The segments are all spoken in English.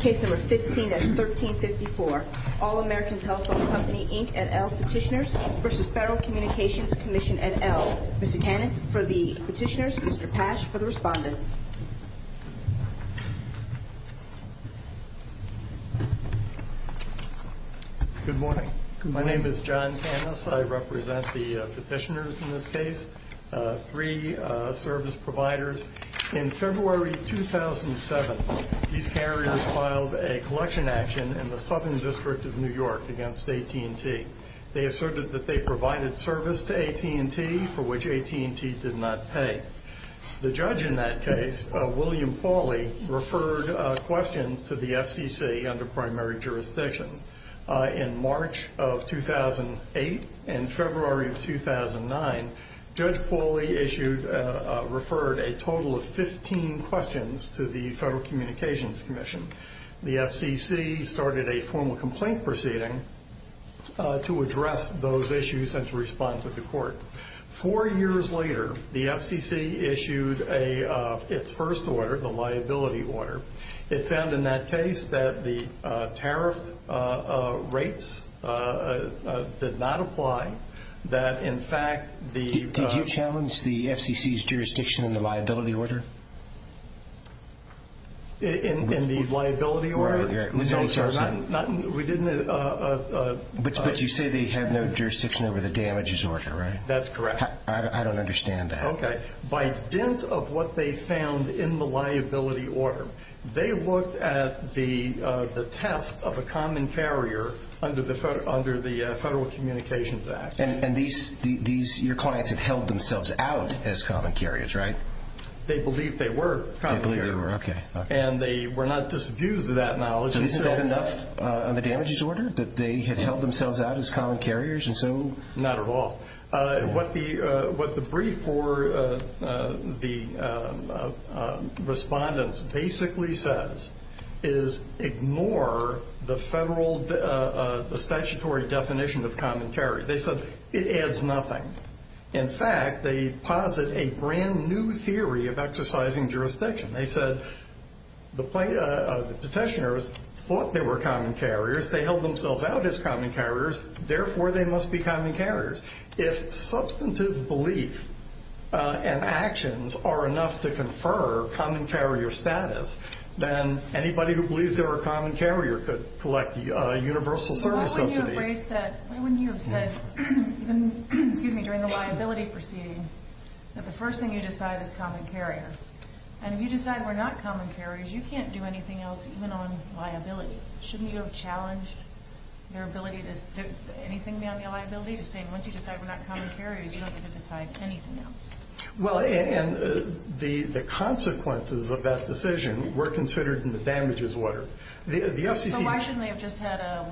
Case number 15-1354. All American Telephone Company, Inc. et al. Petitioners v. Federal Communications Commission et al. Mr. Canis for the petitioners, Mr. Pasch for the respondent. Good morning. My name is John Canis. I represent the petitioners in this case, three service providers. In February 2007, these carriers filed a collection action in the Southern District of New York against AT&T. They asserted that they provided service to AT&T, for which AT&T did not pay. The judge in that case, William Pauly, referred questions to the FCC under primary jurisdiction. In March of 2008 and February of 2009, Judge Pauly referred a total of 15 questions to the Federal Communications Commission. The FCC started a formal complaint proceeding to address those issues and to respond to the court. Four years later, the FCC issued its first order, the liability order. It found in that case that the tariff rates did not apply. Did you challenge the FCC's jurisdiction in the liability order? In the liability order? But you say they have no jurisdiction over the damages order, right? That's correct. I don't understand that. By dent of what they found in the liability order, they looked at the test of a common carrier under the Federal Communications Act. And your clients had held themselves out as common carriers, right? They believed they were common carriers. And they were not disabused of that knowledge. Isn't that enough on the damages order, that they had held themselves out as common carriers? Not at all. What the brief for the respondents basically says is ignore the statutory definition of common carrier. They said it adds nothing. In fact, they posit a brand new theory of exercising jurisdiction. They said the petitioners thought they were common carriers. They held themselves out as common carriers. Therefore, they must be common carriers. If substantive belief and actions are enough to confer common carrier status, then anybody who believes they were a common carrier could collect universal service subsidies. Why wouldn't you have said during the liability proceeding that the first thing you decide is common carrier? And if you decide we're not common carriers, you can't do anything else even on liability. Shouldn't you have challenged their ability to do anything beyond the liability? Just saying once you decide we're not common carriers, you don't get to decide anything else. Well, and the consequences of that decision were considered in the damages order. So why shouldn't they have just had a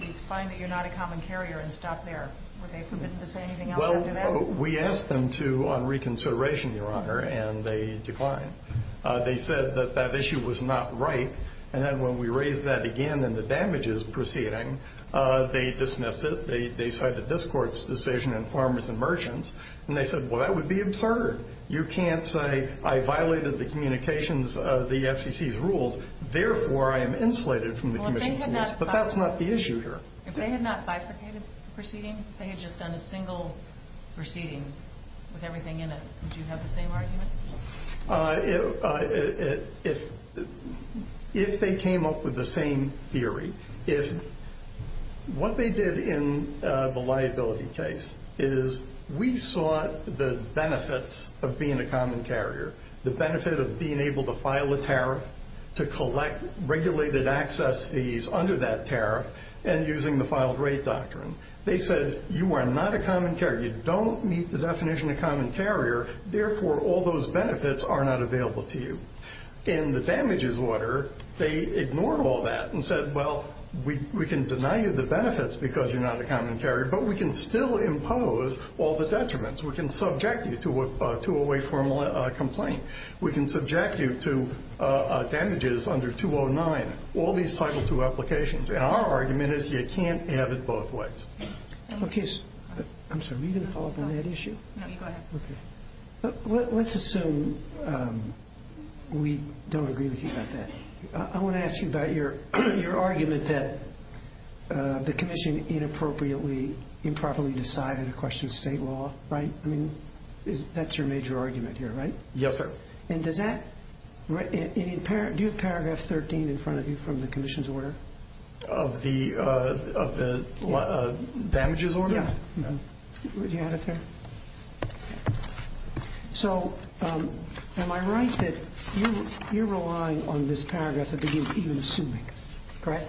we find that you're not a common carrier and stop there? Were they permitted to say anything else after that? Well, we asked them to on reconsideration, Your Honor, and they declined. They said that that issue was not right. And then when we raised that again in the damages proceeding, they dismissed it. They cited this court's decision in farmers and merchants. And they said, well, that would be absurd. You can't say I violated the communications of the FCC's rules. Therefore, I am insulated from the commission's rules. But that's not the issue here. If they had not bifurcated the proceeding, if they had just done a single proceeding with everything in it, would you have the same argument? If they came up with the same theory, what they did in the liability case is we saw the benefits of being a common carrier, the benefit of being able to file a tariff, to collect regulated access fees under that tariff, and using the filed rate doctrine. They said you are not a common carrier. You don't meet the definition of common carrier. Therefore, all those benefits are not available to you. In the damages order, they ignored all that and said, well, we can deny you the benefits because you're not a common carrier, but we can still impose all the detriments. We can subject you to a way formal complaint. We can subject you to damages under 209, all these Title II applications. And our argument is you can't have it both ways. Okay. I'm sorry. Are you going to follow up on that issue? No, you go ahead. Okay. Let's assume we don't agree with you about that. I want to ask you about your argument that the commission inappropriately, improperly decided to question state law, right? I mean, that's your major argument here, right? Yes, sir. And does that – do you have paragraph 13 in front of you from the commission's order? Of the damages order? Yeah. Do you have it there? So am I right that you're relying on this paragraph that begins, even assuming, correct?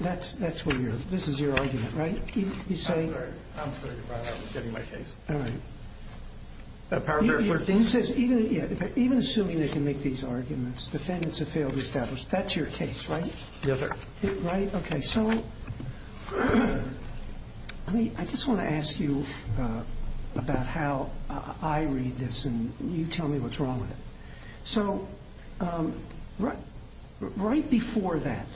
That's where you're – this is your argument, right? I'm sorry. I'm sorry. You're right. I was getting my case. All right. Paragraph 13. Even assuming they can make these arguments, defendants have failed to establish. That's your case, right? Yes, sir. Right? Okay. So I just want to ask you about how I read this, and you tell me what's wrong with it. So right before that,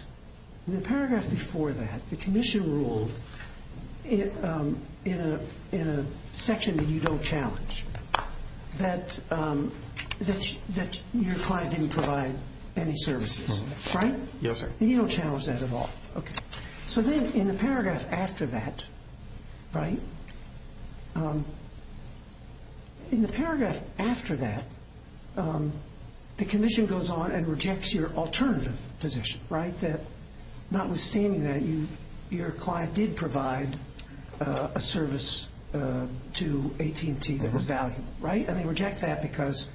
in the paragraph before that, the commission ruled in a section that you don't challenge that your client didn't provide any services, right? Yes, sir. And you don't challenge that at all. Okay. So then in the paragraph after that, right, in the paragraph after that, the commission goes on and rejects your alternative position, right? That notwithstanding that, your client did provide a service to AT&T that was valuable, right? And they reject that because,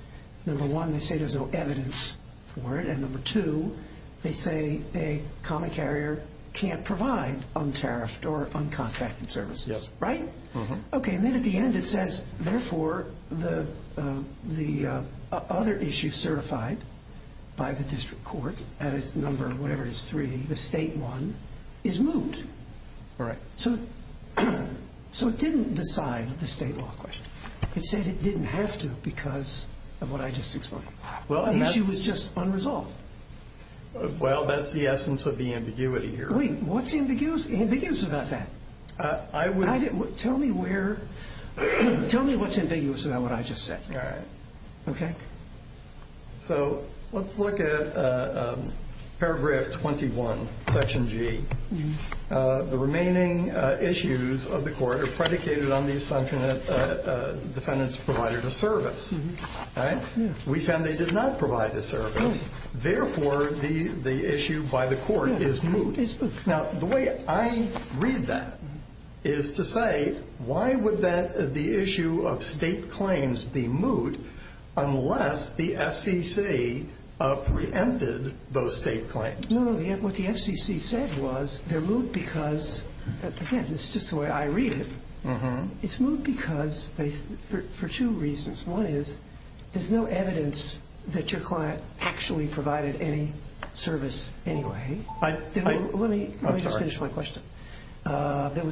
number one, they say there's no evidence for it, and number two, they say a common carrier can't provide untariffed or uncontacted services. Yes. Right? Mm-hmm. Okay. And then at the end it says, therefore, the other issue certified by the district court, and it's number whatever it is, three, the state one, is moot. Right. So it didn't decide the state law question. It said it didn't have to because of what I just explained. The issue was just unresolved. Well, that's the essence of the ambiguity here. Wait, what's ambiguous about that? Tell me what's ambiguous about what I just said. All right. Okay? So let's look at paragraph 21, section G. The remaining issues of the court are predicated on the assumption that defendants provided a service, right? We found they did not provide a service. Therefore, the issue by the court is moot. Unless the FCC preempted those state claims. No, no. What the FCC said was they're moot because, again, it's just the way I read it. Mm-hmm. It's moot because for two reasons. One is there's no evidence that your client actually provided any service anyway. There was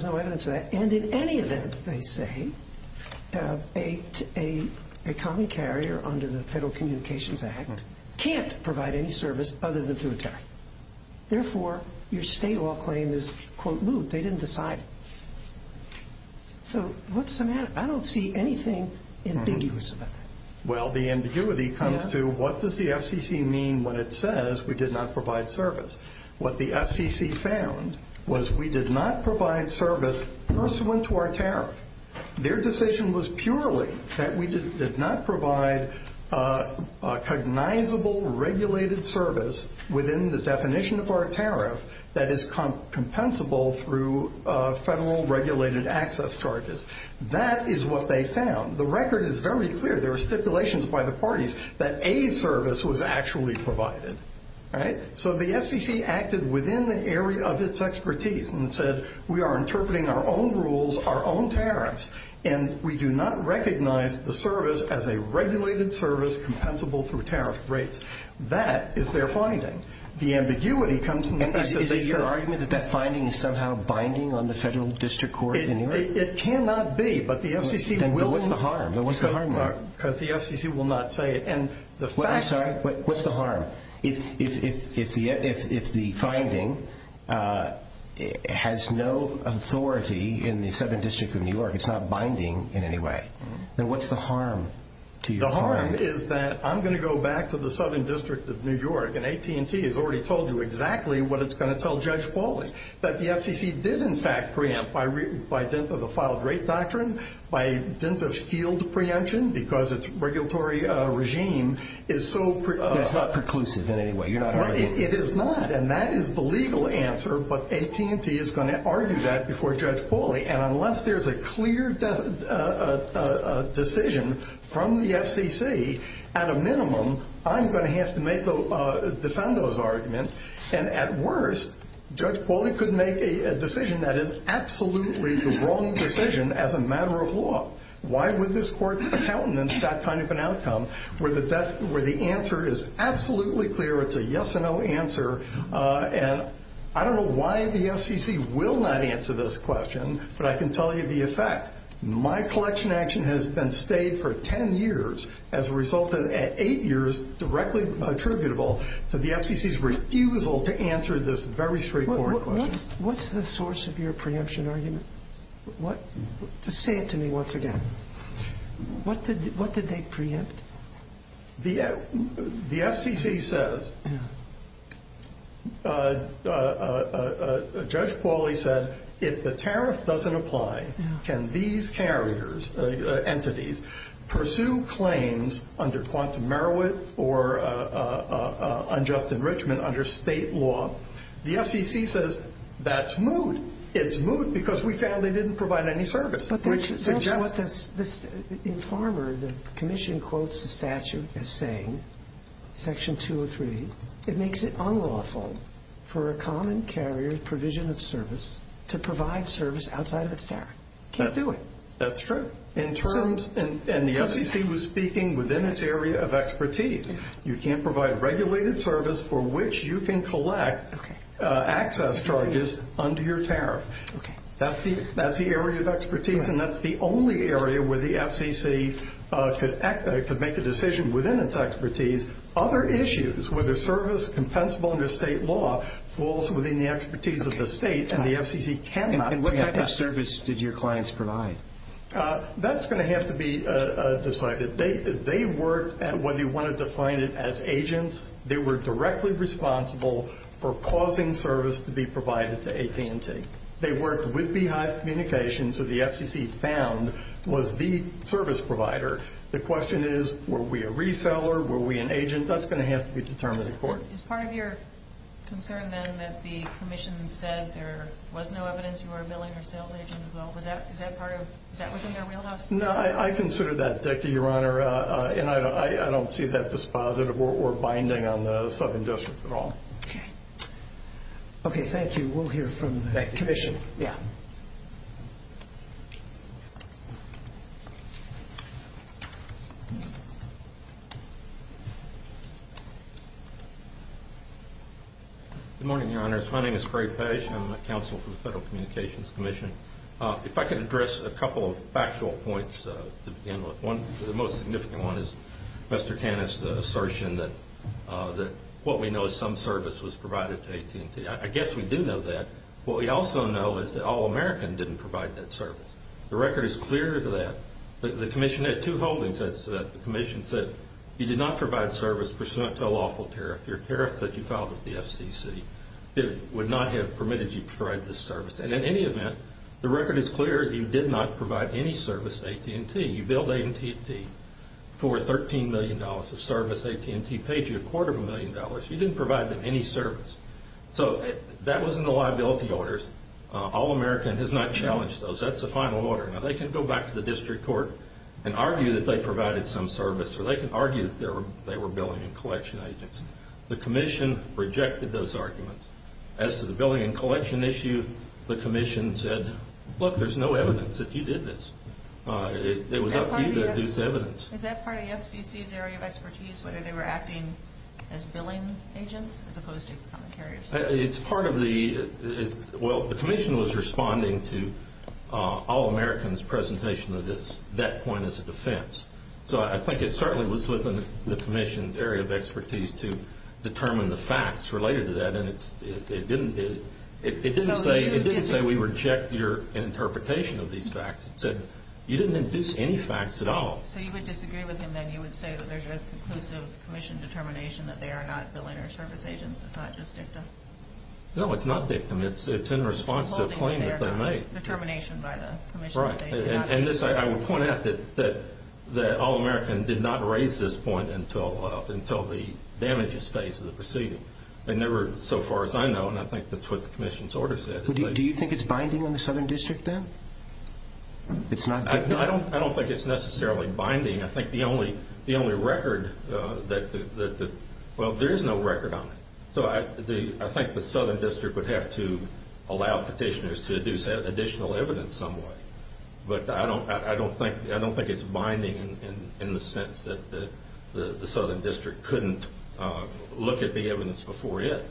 no evidence of that. And in any event, they say, a common carrier under the Federal Communications Act can't provide any service other than through attack. Therefore, your state law claim is, quote, moot. They didn't decide. So what's the matter? I don't see anything ambiguous about that. Well, the ambiguity comes to what does the FCC mean when it says we did not provide service? What the FCC found was we did not provide service pursuant to our tariff. Their decision was purely that we did not provide a cognizable regulated service within the definition of our tariff that is compensable through federal regulated access charges. That is what they found. The record is very clear. There are stipulations by the parties that a service was actually provided, right? So the FCC acted within the area of its expertise and said we are interpreting our own rules, our own tariffs, and we do not recognize the service as a regulated service compensable through tariff rates. That is their finding. The ambiguity comes in the fact that they said – Is it your argument that that finding is somehow binding on the federal district court in New York? It cannot be, but the FCC will – Then what's the harm? Then what's the harm, Mark? Because the FCC will not say it. I'm sorry. What's the harm? If the finding has no authority in the Southern District of New York, it's not binding in any way, then what's the harm to your finding? The harm is that I'm going to go back to the Southern District of New York, and AT&T has already told you exactly what it's going to tell Judge Pauling, that the FCC did, in fact, preempt by dint of the filed rate doctrine, by dint of field preemption because its regulatory regime is so – It's not preclusive in any way. You're not arguing – It is not, and that is the legal answer, but AT&T is going to argue that before Judge Pauling, and unless there's a clear decision from the FCC, at a minimum, I'm going to have to defend those arguments, and at worst, Judge Pauling could make a decision that is absolutely the wrong decision as a matter of law. Why would this Court countenance that kind of an outcome where the answer is absolutely clear? It's a yes-or-no answer, and I don't know why the FCC will not answer this question, but I can tell you the effect. My collection action has been stayed for 10 years as a result of eight years directly attributable to the FCC's refusal to answer this very straightforward question. What's the source of your preemption argument? Say it to me once again. What did they preempt? The FCC says – Judge Pauling said if the tariff doesn't apply, can these carriers, entities, pursue claims under quantum merit or unjust enrichment under state law? The FCC says that's moot. It's moot because we found they didn't provide any service, which suggests – But that's what this informer, the commission quotes the statute as saying, Section 203, it makes it unlawful for a common carrier provision of service to provide service outside of its tariff. Can't do it. That's true. And the FCC was speaking within its area of expertise. You can't provide regulated service for which you can collect access charges under your tariff. That's the area of expertise, and that's the only area where the FCC could make a decision within its expertise. Other issues, whether service compensable under state law falls within the expertise of the state, and the FCC cannot. And what type of service did your clients provide? That's going to have to be decided. They worked at whether you want to define it as agents. They were directly responsible for causing service to be provided to AT&T. They worked with Beehive Communications, so the FCC found was the service provider. The question is, were we a reseller, were we an agent? That's going to have to be determined in court. Is part of your concern, then, that the commission said there was no evidence you were a billing or sales agent as well? Is that within their wheelhouse? No, I consider that, Deputy Your Honor, and I don't see that dispositive or binding on the Southern District at all. Okay, thank you. We'll hear from the commission. Good morning, Your Honors. My name is Craig Page, and I'm a counsel for the Federal Communications Commission. If I could address a couple of factual points to begin with. One, the most significant one, is Mr. Canna's assertion that what we know is some service was provided to AT&T. I guess we do know that. What we also know is that All American didn't provide that service. The record is clear to that. The commission had two holdings. The commission said you did not provide service pursuant to a lawful tariff. Your tariff that you filed with the FCC would not have permitted you to provide this service. And in any event, the record is clear that you did not provide any service to AT&T. You billed AT&T for $13 million of service. AT&T paid you a quarter of a million dollars. You didn't provide them any service. So that was in the liability orders. All American has not challenged those. That's the final order. Now, they can go back to the district court and argue that they provided some service, or they can argue that they were billing and collection agents. The commission rejected those arguments. As to the billing and collection issue, the commission said, look, there's no evidence that you did this. It was up to you to deduce evidence. Is that part of the FCC's area of expertise, whether they were acting as billing agents as opposed to becoming carriers? It's part of the – well, the commission was responding to All American's presentation of that point as a defense. So I think it certainly was within the commission's area of expertise to determine the facts related to that, and it didn't say we reject your interpretation of these facts. It said you didn't induce any facts at all. So you would disagree with him, then? You would say that there's a conclusive commission determination that they are not billing or service agents. It's not just dicta? No, it's not dictum. It's in response to a claim that they made. Determination by the commission. Right. And I would point out that All American did not raise this point until the damages phase of the proceeding. They never – so far as I know, and I think that's what the commission's order said. Do you think it's binding on the Southern District, then? It's not dictum? I don't think it's necessarily binding. I think the only record that – well, there is no record on it. So I think the Southern District would have to allow petitioners to deduce additional evidence some way. But I don't think it's binding in the sense that the Southern District couldn't look at the evidence before it.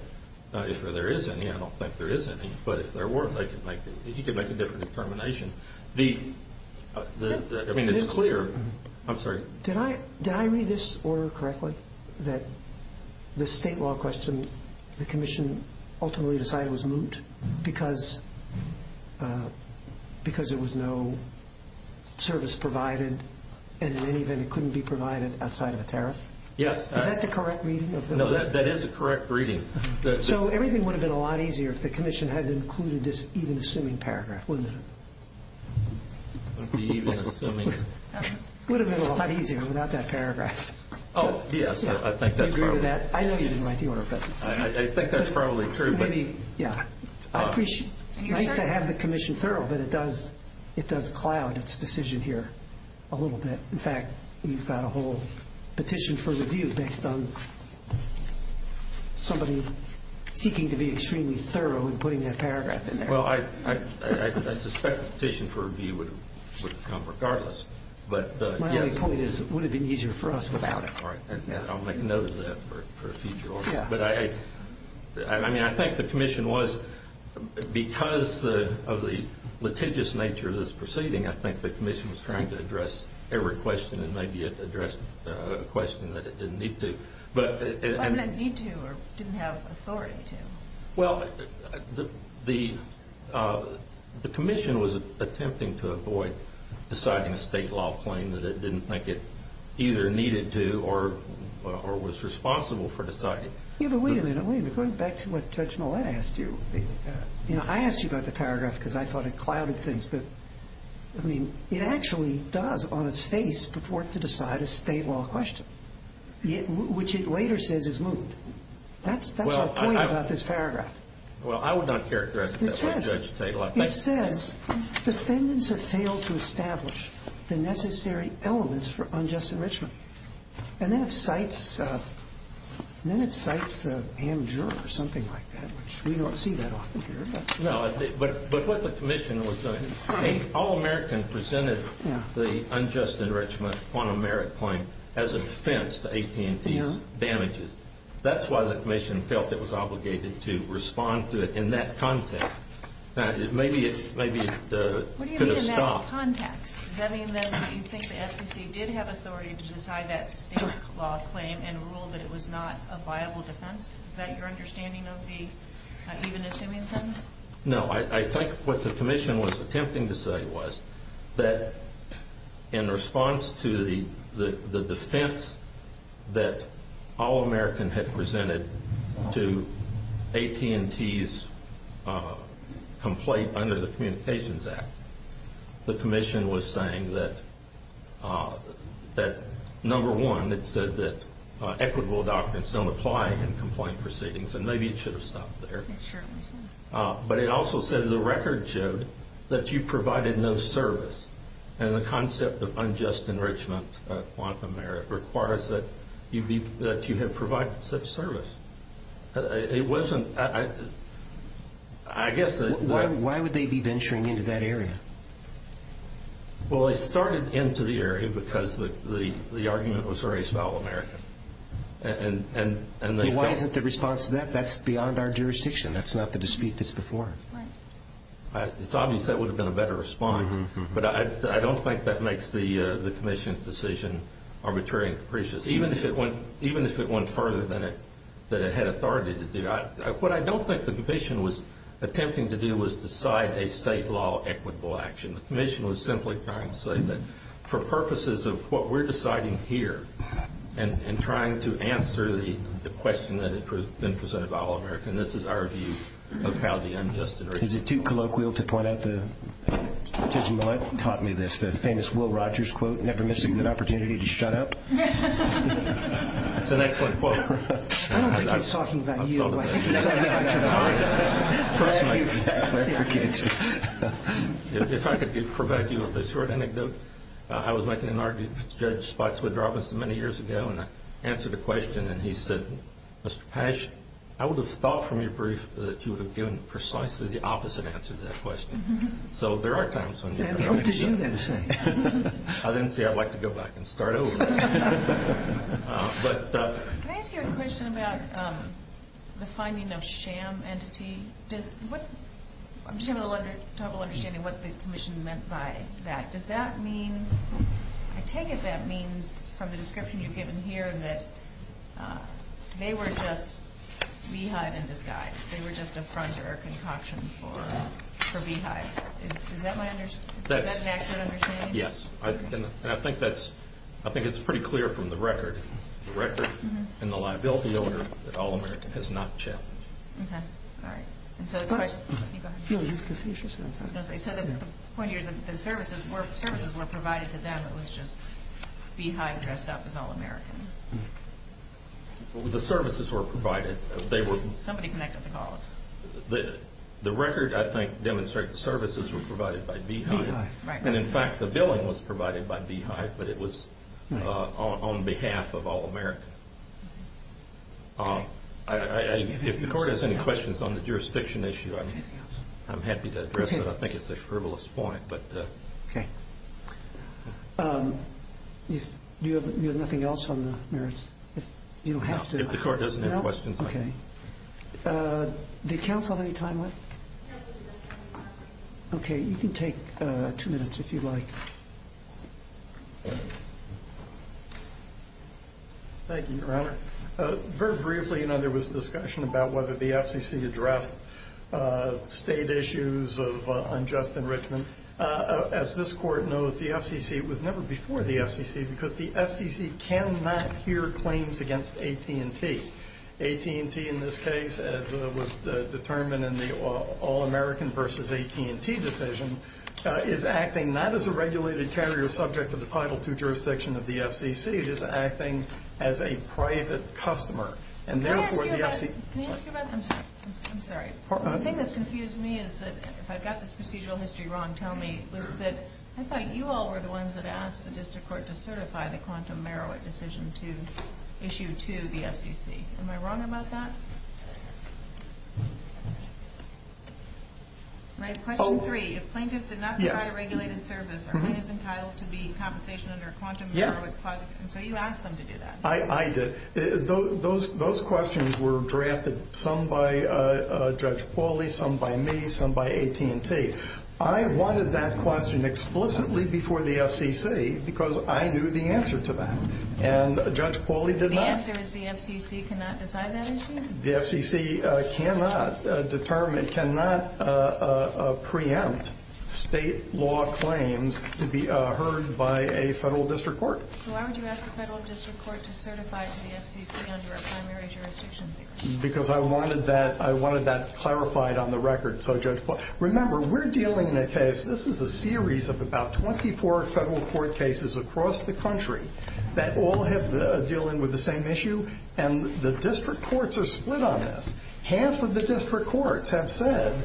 If there is any, I don't think there is any. But if there weren't, you could make a different determination. I mean, it's clear – I'm sorry. Did I read this order correctly? That the state law question the commission ultimately decided was moot because there was no service provided, and in any event it couldn't be provided outside of a tariff? Yes. Is that the correct reading? No, that is the correct reading. So everything would have been a lot easier if the commission had included this even-assuming paragraph, wouldn't it? Even-assuming. It would have been a lot easier without that paragraph. Oh, yes. I think that's probably – Do you agree with that? I know you didn't write the order, but – I think that's probably true. Yeah. I appreciate – it's nice to have the commission thorough, but it does cloud its decision here a little bit. In fact, we've got a whole petition for review based on somebody seeking to be extremely thorough in putting that paragraph in there. Well, I suspect the petition for review would have come regardless, but – My only point is it would have been easier for us without it. All right. I'll make a note of that for future orders. But I – I mean, I think the commission was – because of the litigious nature of this proceeding, I think the commission was trying to address every question and maybe address a question that it didn't need to. But – It didn't need to or didn't have authority to. Well, the commission was attempting to avoid deciding a state law claim that it didn't think it either needed to or was responsible for deciding. Yeah, but wait a minute. Wait a minute. Going back to what Judge Millett asked you, you know, I asked you about the paragraph because I thought it clouded things. But, I mean, it actually does on its face purport to decide a state law question, which it later says is moot. That's our point about this paragraph. Well, I would not characterize it that way, Judge Tate. It says defendants have failed to establish the necessary elements for unjust enrichment. And then it cites – and then it cites AmJur or something like that, which we don't see that often here. No, but what the commission was doing – all Americans presented the unjust enrichment quantum merit claim as a defense to AT&T's damages. That's why the commission felt it was obligated to respond to it in that context. Maybe it could have stopped. What do you mean in that context? Does that mean that you think the SEC did have authority to decide that state law claim and rule that it was not a viable defense? Is that your understanding of the – even assuming sentence? No, I think what the commission was attempting to say was that in response to the defense that all Americans had presented to AT&T's complaint under the Communications Act, the commission was saying that, number one, it said that equitable doctrines don't apply in complaint proceedings, and maybe it should have stopped there. But it also said the record showed that you provided no service, and the concept of unjust enrichment quantum merit requires that you have provided such service. It wasn't – I guess that – Why would they be venturing into that area? Well, they started into the area because the argument was very spell-American, and they felt – That's not the dispute that's before. It's obvious that would have been a better response, but I don't think that makes the commission's decision arbitrary and capricious, even if it went further than it had authority to do. What I don't think the commission was attempting to do was decide a state law equitable action. The commission was simply trying to say that for purposes of what we're deciding here and trying to answer the question that had been presented by all Americans. This is our view of how the unjust enrichment – Is it too colloquial to point out that – Tidge and Millett taught me this, the famous Will Rogers quote, never miss a good opportunity to shut up. It's an excellent quote. I don't think he's talking about you. He's talking about your concept. Thank you for that. If I could provide you with a short anecdote. I was making an argument with Judge Spotswood-Robinson many years ago, and I answered a question, and he said, Mr. Pash, I would have thought from your brief that you would have given precisely the opposite answer to that question. So there are times when – What did you then say? I didn't say I'd like to go back and start over. Can I ask you a question about the finding of sham entity? I'm just having a little trouble understanding what the commission meant by that. Does that mean – I take it that means from the description you've given here that they were just beehive in disguise. They were just a front door concoction for beehive. Is that an accurate understanding? Yes. And I think that's – I think it's pretty clear from the record. The record and the liability order that All-American has not checked. Okay. All right. And so it's – No, you can finish your sentence. So the point here is that the services were provided to them. It was just beehive dressed up as All-American. The services were provided. Somebody connected the calls. The record, I think, demonstrates the services were provided by beehive. And, in fact, the billing was provided by beehive, but it was on behalf of All-American. If the court has any questions on the jurisdiction issue, I'm happy to address it. I think it's a frivolous point, but – Okay. Do you have nothing else on the merits? You don't have to – No, if the court doesn't have questions. No? Okay. Did counsel have any time left? Okay. You can take two minutes if you'd like. Thank you, Your Honor. Very briefly, you know, there was discussion about whether the FCC addressed state issues of unjust enrichment. As this court knows, the FCC was never before the FCC because the FCC cannot hear claims against AT&T. AT&T, in this case, as was determined in the All-American v. AT&T decision, is acting not as a regulated carrier subject to the Title II jurisdiction of the FCC. It is acting as a private customer. And, therefore, the FCC – Can I ask you about – I'm sorry. The thing that's confused me is that, if I've got this procedural history wrong, tell me, was that I thought you all were the ones that asked the district court to certify the quantum merit decision to issue to the FCC. Am I wrong about that? My question three, if plaintiffs did not provide a regulated service, are plaintiffs entitled to be – Yes. Compensation under a quantum merit clause? Yeah. And so you asked them to do that. I did. Those questions were drafted, some by Judge Pauly, some by me, some by AT&T. I wanted that question explicitly before the FCC because I knew the answer to that. And Judge Pauly did not. The answer is the FCC cannot decide that issue? The FCC cannot determine – cannot preempt state law claims to be heard by a federal district court. So why would you ask a federal district court to certify to the FCC under a primary jurisdiction? Because I wanted that – I wanted that clarified on the record. Remember, we're dealing in a case – this is a series of about 24 federal court cases across the country that all have – are dealing with the same issue, and the district courts are split on this. Half of the district courts have said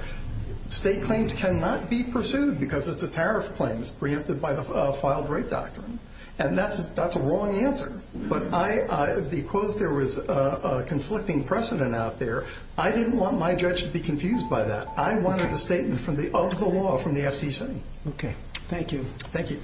state claims cannot be pursued because it's a tariff claim. It's preempted by the filed rape doctrine. And that's a wrong answer. But I – because there was a conflicting precedent out there, I didn't want my judge to be confused by that. I wanted the statement from the – of the law from the FCC. Okay. Thank you. Thank you.